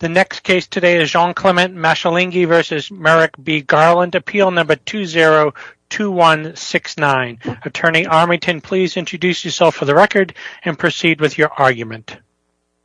The next case today is Jean-Clement Mashilingi v. Merrick B. Garland, Appeal No. 20-2169. Attorney Armington, please introduce yourself for the record and proceed with your argument.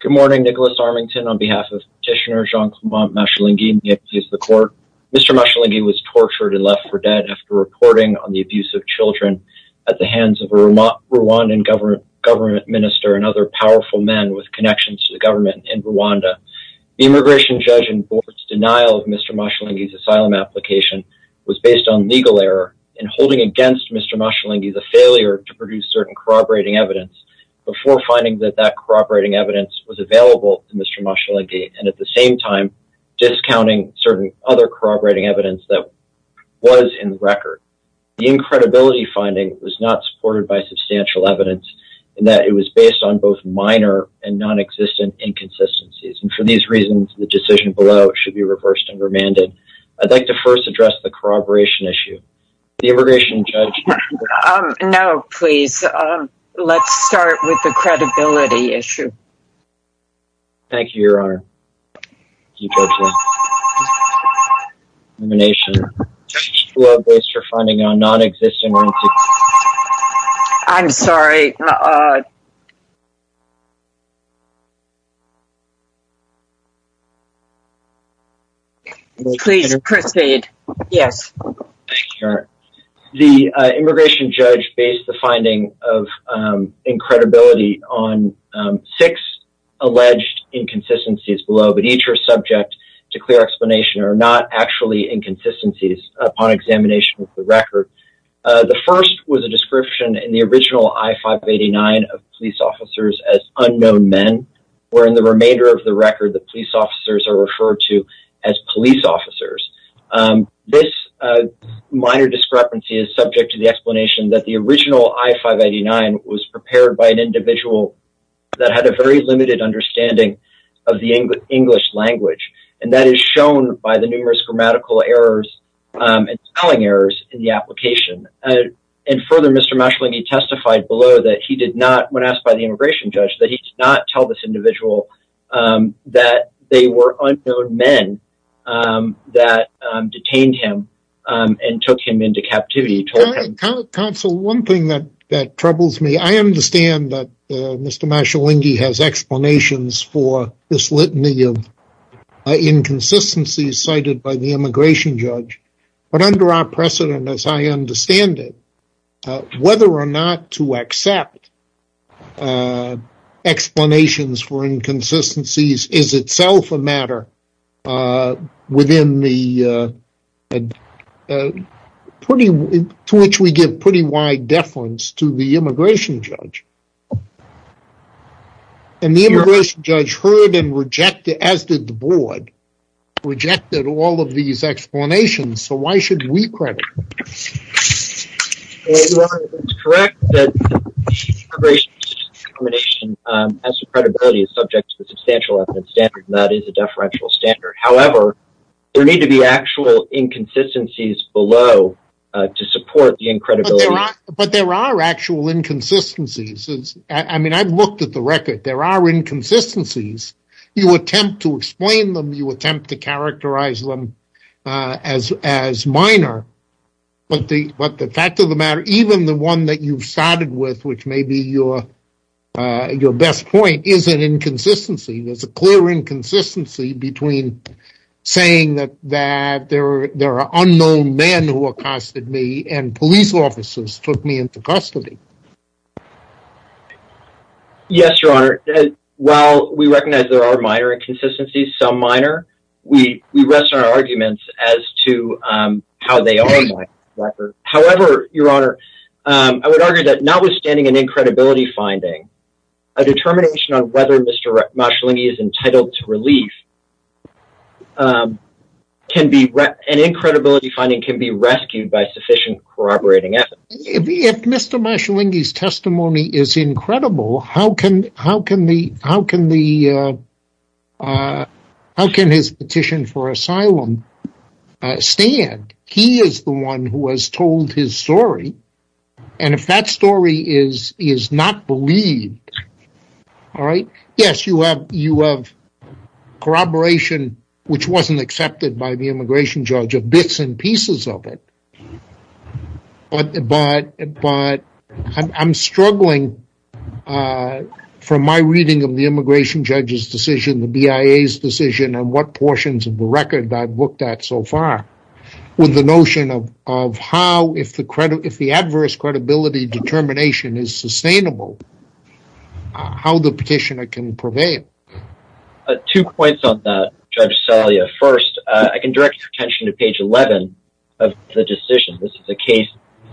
Good morning, Nicholas Armington. On behalf of Petitioner Jean-Clement Mashilingi and the MPs of the Court, Mr. Mashilingi was tortured and left for dead after reporting on the abuse of children at the hands of a Rwandan government minister and other powerful men with connections to the government in Rwanda. The immigration judge in court's denial of Mr. Mashilingi's asylum application was based on legal error and holding against Mr. Mashilingi the failure to produce certain corroborating evidence before finding that that corroborating evidence was available to Mr. Mashilingi and at the same time discounting certain other corroborating evidence that was in the record. The incredibility finding was not supported by substantial evidence in that it was based on both minor and non-existent inconsistencies. And for these reasons, the decision below should be reversed and remanded. I'd like to first address the corroboration issue. The immigration judge... Um, no, please. Let's start with the credibility issue. Thank you, Your Honor. Thank you, Judge Lowe. Elimination. Judge Lowe, based your finding on non-existent... I'm sorry. Please proceed. Yes. Thank you, Your Honor. The immigration judge based the finding of incredibility on six alleged inconsistencies below, but each are subject to clear explanation or not actually inconsistencies upon examination of the record. The first was a description in the original I-589 of police officers as unknown men, where in the remainder of the record, the police officers are referred to as police officers. This minor discrepancy is subject to the explanation that the original I-589 was prepared by an individual that had a very limited understanding of the English language, and that is shown by the numerous grammatical errors and spelling errors in the application. And further, Mr. Mashalinghi testified below that he did not, when asked by the immigration judge, that he did not tell this individual that they were unknown men that detained him and took him into captivity. Counsel, one thing that troubles me, I understand that Mr. Mashalinghi has explanations for this litany of inconsistencies cited by the immigration judge, but under our precedent, as I understand it, whether or not to accept explanations for inconsistencies is itself a matter to which we give pretty wide deference to the immigration judge. And the immigration judge heard and rejected, as did the board, rejected all of these explanations, so why should we credit him? You are correct that the immigration judge's determination as to credibility is subject to the substantial evidence standard, and that is a deferential standard. However, there need to be actual inconsistencies below to support the incredibility. But there are actual inconsistencies. I mean, I've looked at the record. There are inconsistencies. You attempt to explain them, you attempt to characterize them as minor. But the fact of the matter, even the one that you've started with, which may be your best point, is an inconsistency. There's a clear inconsistency between saying that there are unknown men who accosted me and police officers took me into custody. Yes, Your Honor. While we recognize there are minor inconsistencies, some minor, we rest our arguments as to how they are minor. However, Your Honor, I would argue that notwithstanding an incredibility finding, a determination on whether Mr. Marshalinghi is entitled to relief, an incredibility finding can be rescued by sufficient corroborating evidence. If Mr. Marshalinghi's testimony is incredible, how can his petition for asylum stand? He is the one who has told his story. And if that story is not believed, yes, you have corroboration which wasn't accepted by the immigration judge, bits and pieces of it. But I'm struggling from my reading of the immigration judge's decision, the BIA's decision, and what portions of the record I've looked at so far, with the notion of how, if the adverse credibility determination is sustainable, how the petitioner can prevail. Two points on that, Judge Salia. First, I can direct your attention to page 11 of the decision. This is a case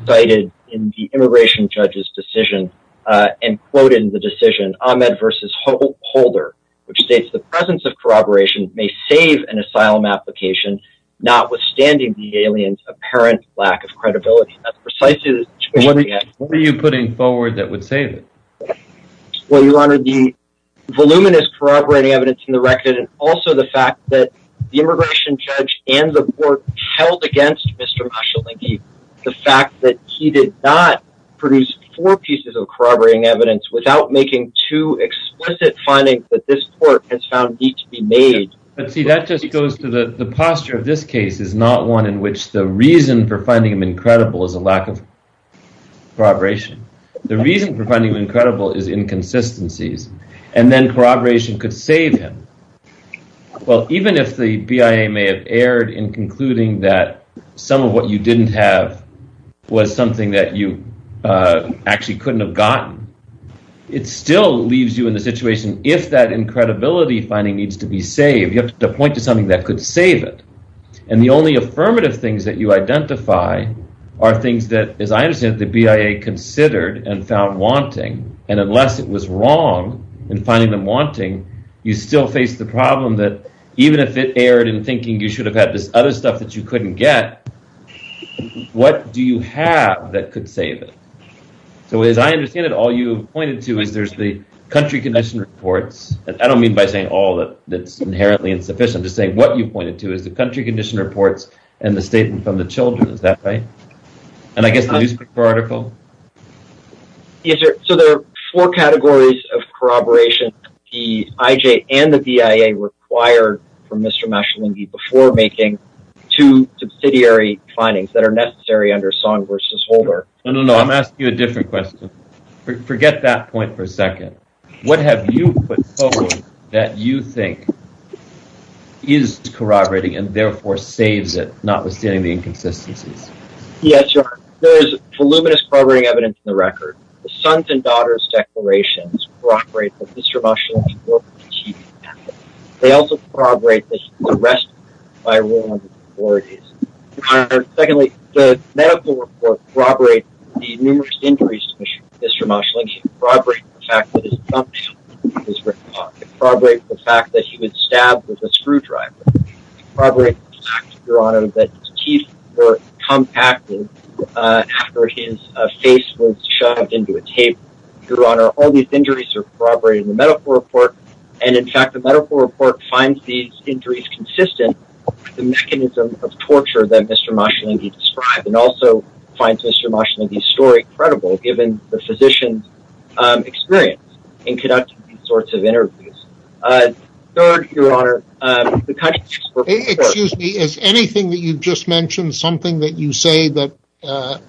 cited in the immigration judge's decision, and quoted in the decision, Ahmed v. Holder, which states the presence of corroboration may save an asylum application, notwithstanding the alien's apparent lack of credibility. That's precisely the situation we have. What are you putting forward that would save it? Well, Your Honor, the voluminous corroborating evidence in the record, and also the fact that the immigration judge and the court held against Mr. Mashalenki the fact that he did not produce four pieces of corroborating evidence without making two explicit findings that this court has found need to be made. But see, that just goes to the posture of this case is not one in which the reason for finding him incredible is a lack of corroboration. The reason for finding him incredible is inconsistencies. And then corroboration could save him. Well, even if the BIA may have erred in concluding that some of what you didn't have was something that you actually couldn't have gotten, it still leaves you in the situation if that incredibility finding needs to be saved, you have to point to something that could save it. And the only affirmative things that you identify are things that, as I understand it, the BIA considered and found wanting, and unless it was wrong in finding them wanting, you still face the problem that even if it erred in thinking you should have had this other stuff that you couldn't get, what do you have that could save it? So as I understand it, all you have pointed to is there's the country condition reports, and I don't mean by saying all that's inherently insufficient. I'm just saying what you pointed to is the country condition reports and the statement from the children. Is that right? And I guess the newspaper article? Yes, sir. So there are four categories of corroboration, the IJ and the BIA required from Mr. Mashalinghi before making two subsidiary findings that are necessary under Song v. Holder. No, no, no. I'm asking you a different question. Forget that point for a second. What have you put forward that you think is corroborating and therefore saves it, notwithstanding the inconsistencies? Yes, Your Honor. There is voluminous corroborating evidence in the record. The sons and daughters' declarations corroborate that Mr. Mashalinghi broke his teeth. They also corroborate that he was arrested by a ruling of the authorities. Secondly, the medical report corroborates the numerous injuries to Mr. Mashalinghi. It corroborates the fact that his thumb nail was in his wrist pocket. It corroborates the fact that he was stabbed with a screwdriver. It corroborates the fact, Your Honor, that his teeth were compacted after his face was shoved into a table. Your Honor, all these injuries are corroborated in the medical report, and, in fact, the medical report finds these injuries consistent with the mechanism of torture that Mr. Mashalinghi described and also finds Mr. Mashalinghi's story credible, given the physician's experience in conducting these sorts of interviews. Third, Your Honor, the country... Excuse me. Is anything that you've just mentioned something that you say that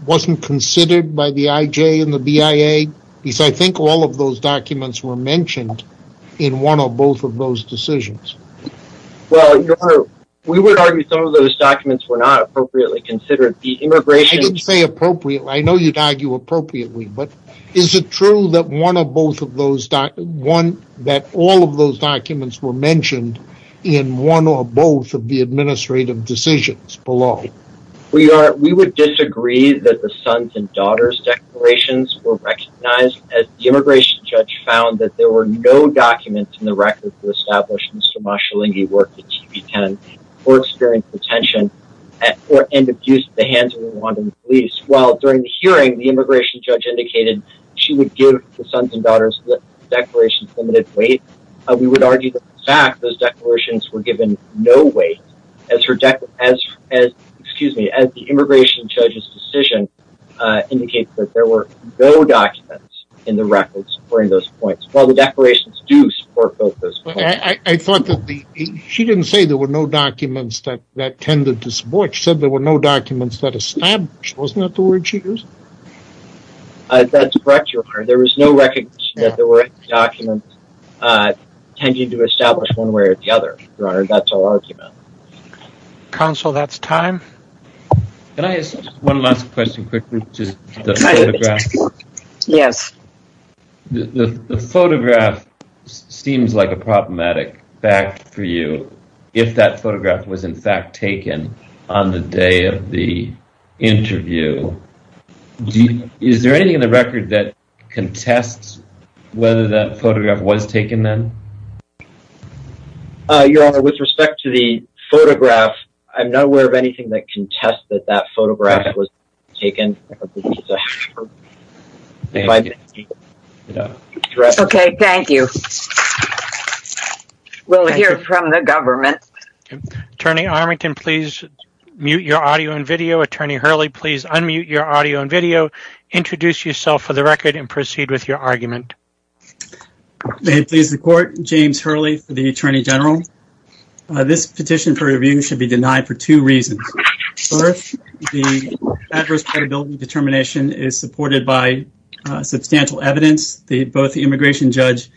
wasn't considered by the IJ and the BIA? Because I think all of those documents were mentioned in one or both of those decisions. Well, Your Honor, we would argue some of those documents were not appropriately considered. The immigration... I didn't say appropriate. I know you'd argue appropriately, but is it true that one or both of those... that all of those documents were mentioned in one or both of the administrative decisions below? We would disagree that the sons and daughters declarations were recognized as the immigration judge found that there were no documents in the record to establish Mr. Mashalinghi worked at TB10 or experienced detention and abused the hands of the Rwandan police, while during the hearing, the immigration judge indicated she would give the sons and daughters the declaration's limited weight. We would argue that, in fact, those declarations were given no weight as the immigration judge's decision indicates that there were no documents in the records during those points, while the declarations do support both those points. I thought that the... She didn't say there were no documents that tended to support. She said there were no documents that established. Wasn't that the word she used? That's correct, Your Honor. There was no recognition that there were any documents tending to establish one way or the other, Your Honor. That's our argument. Counsel, that's time. Can I ask one last question, quickly, to the photograph? Yes. The photograph seems like a problematic fact for you if that photograph was, in fact, taken on the day of the interview. Is there anything in the record that contests whether that photograph was taken then? Your Honor, with respect to the photograph, I'm not aware of anything that contests that that photograph was taken. Okay, thank you. We'll hear from the government. Attorney Armington, please mute your audio and video. Attorney Hurley, please unmute your audio and video. Introduce yourself for the record and proceed with your argument. May it please the Court, James Hurley for the Attorney General. This petition for review should be denied for two reasons. First, the adverse credibility determination is supported by substantial evidence. Both the immigration judge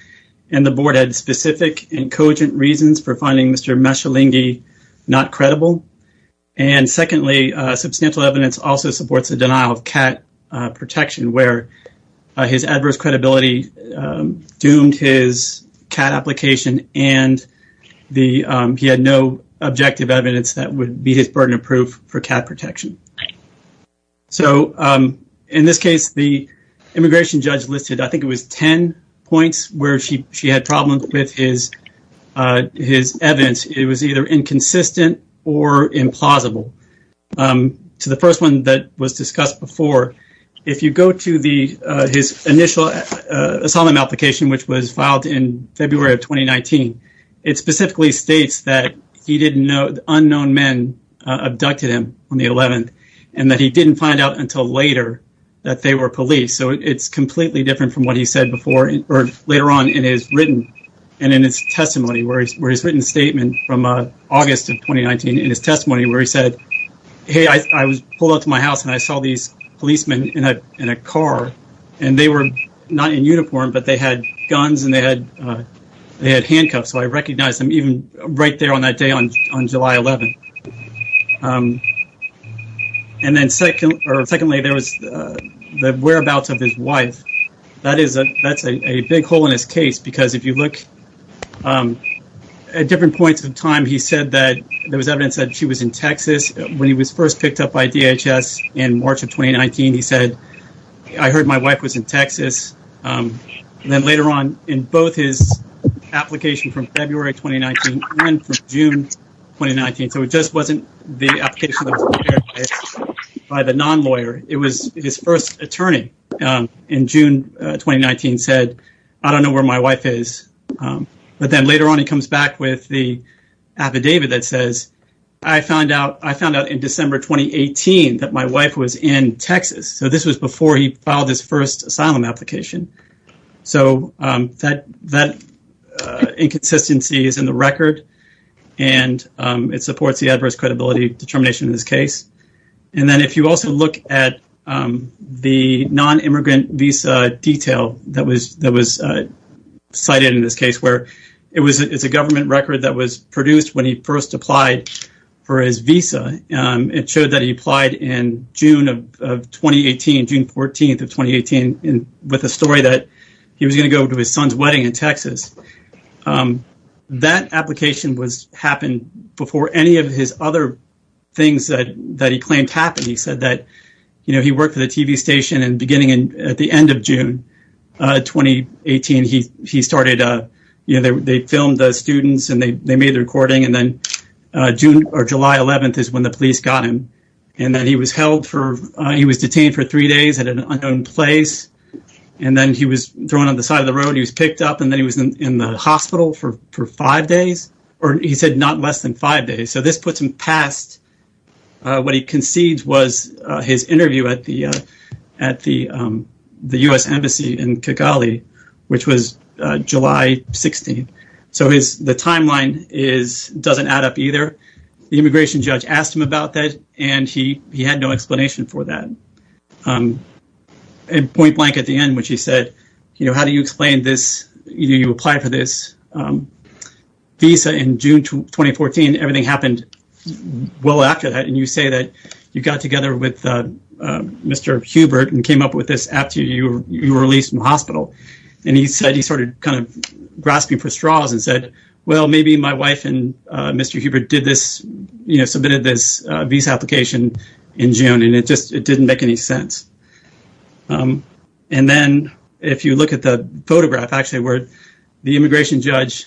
and the Board had specific and cogent reasons for finding Mr. Mashalinghi not credible. And secondly, substantial evidence also supports a denial of CAT protection where his adverse credibility doomed his CAT application and he had no objective evidence that would be his burden of proof for CAT protection. So, in this case, the immigration judge listed I think it was 10 points where she had problems with his evidence. It was either inconsistent or implausible. To the first one that was discussed before, if you go to his initial asylum application, which was filed in February of 2019, it specifically states that unknown men abducted him on the 11th and that he didn't find out until later that they were police. So, it's completely different from what he said before or later on in his written and in his testimony where his written statement from August of 2019 in his testimony where he said, hey, I was pulled up to my house and I saw these policemen in a car and they were not in uniform, but they had guns and they had handcuffs. So, I recognized them even right there on that day on July 11th. And then secondly, there was the whereabouts of his wife. That's a big hole in his case because if you look at different points of time, he said that there was evidence that she was in Texas. When he was first picked up by DHS in March of 2019, he said, I heard my wife was in Texas. And then later on in both his application from February 2019 and from June 2019. So, it just wasn't the application that was prepared by the non-lawyer. It was his first attorney in June 2019 said, I don't know where my wife is. But then later on, he comes back with the affidavit that says, I found out in December 2018 that my wife was in Texas. So, this was before he filed his first asylum application. So, that inconsistency is in the record and it supports the adverse credibility determination in this case. And then if you also look at the non-immigrant visa detail that was cited in this case, where it's a government record that was produced when he first applied for his visa. It showed that he applied in June of 2018, June 14th of 2018, with a story that he was going to go to his son's wedding in Texas. That application happened before any of his other things that he claimed happened. He said that he worked for the TV station and beginning at the end of June 2018, he started, you know, they filmed the students and they made the recording. And then June or July 11th is when the police got him. And then he was held for he was detained for three days at an unknown place. And then he was thrown on the side of the road. He was picked up and then he was in the hospital for five days or he said not less than five days. So this puts him past what he concedes was his interview at the at the U.S. Embassy in Kigali, which was July 16th. So is the timeline is doesn't add up either. The immigration judge asked him about that and he he had no explanation for that. And point blank at the end, which he said, you know, how do you explain this? You apply for this visa in June 2014. Everything happened well after that. And you say that you got together with Mr. Hubert and came up with this after you were released from the hospital. And he said he started kind of grasping for straws and said, well, maybe my wife and Mr. Hubert did this, you know, submitted this visa application in June. And it just it didn't make any sense. And then if you look at the photograph, actually, where the immigration judge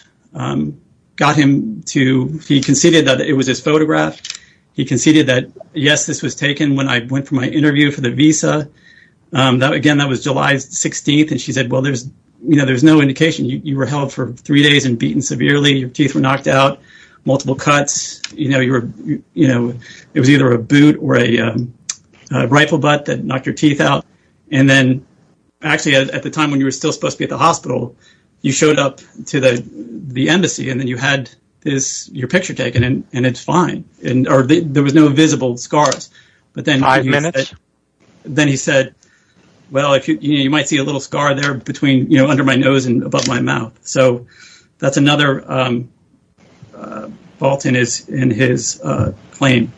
got him to, he conceded that it was his photograph. He conceded that, yes, this was taken when I went for my interview for the visa. Again, that was July 16th. And she said, well, there's you know, there's no indication you were held for three days and beaten severely. Your teeth were knocked out. Multiple cuts. You know, you were you know, it was either a boot or a rifle, but that knocked your teeth out. And then actually at the time when you were still supposed to be at the hospital, you showed up to the embassy and then you had this your picture taken. And it's fine. And there was no visible scars. But then five minutes. Then he said, well, you might see a little scar there between, you know, under my nose and above my mouth. So that's another fault in his claim.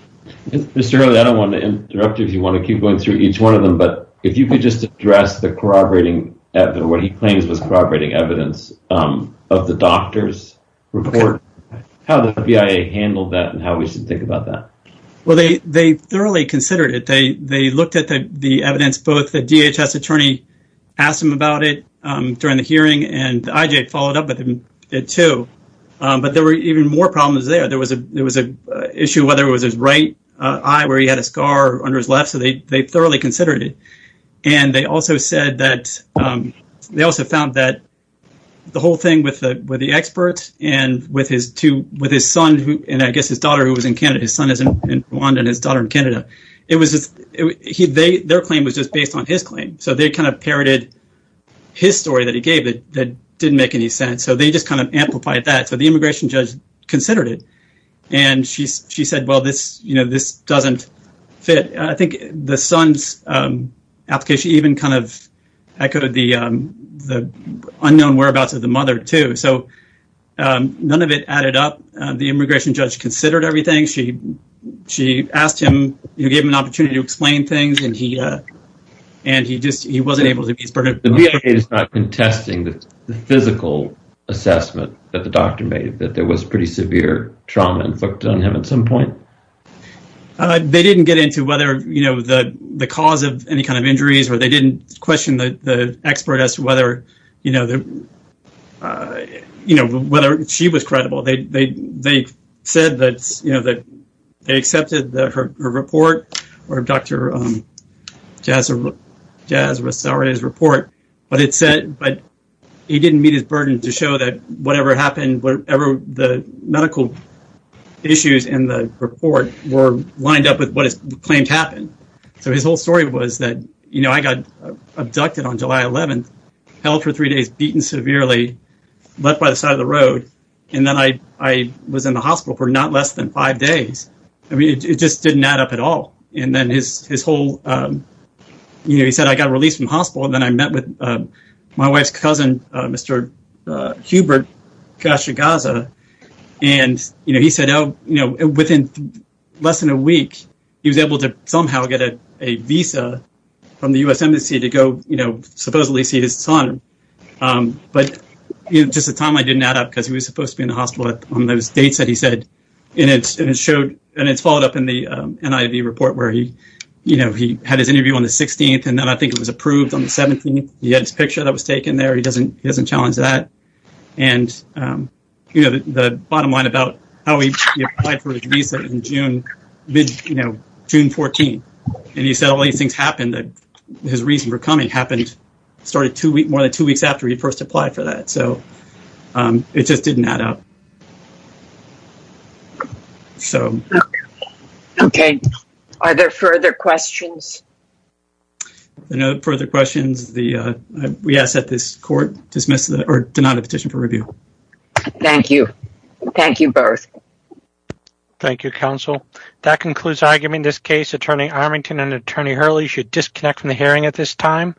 I don't want to interrupt you if you want to keep going through each one of them. But if you could just address the corroborating evidence, what he claims was corroborating evidence of the doctor's report, how the BIA handled that and how we should think about that. Well, they they thoroughly considered it. They they looked at the evidence, both the DHS attorney asked him about it during the hearing and I followed up with him, too. But there were even more problems there. There was a there was an issue, whether it was his right eye where he had a scar on his left. So they they thoroughly considered it. And they also said that they also found that the whole thing with the with the experts and with his two with his son. And I guess his daughter who was in Canada, his son is in Rwanda and his daughter in Canada. It was he they their claim was just based on his claim. So they kind of parroted his story that he gave that didn't make any sense. So they just kind of amplified that. So the immigration judge considered it and she she said, well, this, you know, this doesn't fit. I think the son's application even kind of echoed the unknown whereabouts of the mother, too. So none of it added up. The immigration judge considered everything. She she asked him to give him an opportunity to explain things. And he and he just he wasn't able to. It is not contesting the physical assessment that the doctor made that there was pretty severe trauma inflicted on him at some point. They didn't get into whether, you know, the the cause of any kind of injuries or they didn't question the expert as to whether, you know, you know, whether she was credible. They they they said that, you know, that they accepted her report or Dr. Jasper Jasper, sorry, his report. But it said but he didn't meet his burden to show that whatever happened, whatever the medical issues in the report were lined up with what is claimed happened. So his whole story was that, you know, I got abducted on July 11th, held for three days, beaten severely, left by the side of the road. And then I I was in the hospital for not less than five days. I mean, it just didn't add up at all. And then his his whole, you know, he said, I got released from hospital. And then I met with my wife's cousin, Mr. Hubert. Gosh, you Gaza. And, you know, he said, oh, you know, within less than a week, he was able to somehow get a visa from the US embassy to go, you know, supposedly see his son. But just the time I didn't add up because he was supposed to be in the hospital on those dates that he said. And it showed and it's followed up in the NIV report where he, you know, he had his interview on the 16th. And then I think it was approved on the 17th. He had his picture that was taken there. He doesn't he doesn't challenge that. And, you know, the bottom line about how he applied for a visa in June, you know, June 14th. And he said all these things happened. His reason for coming happened started two weeks, more than two weeks after he first applied for that. So it just didn't add up. So, OK. Are there further questions? No further questions. The we ask that this court dismiss or not a petition for review. Thank you. Thank you both. Thank you, counsel. That concludes argument. This case, Attorney Armington and Attorney Hurley should disconnect from the hearing at this time.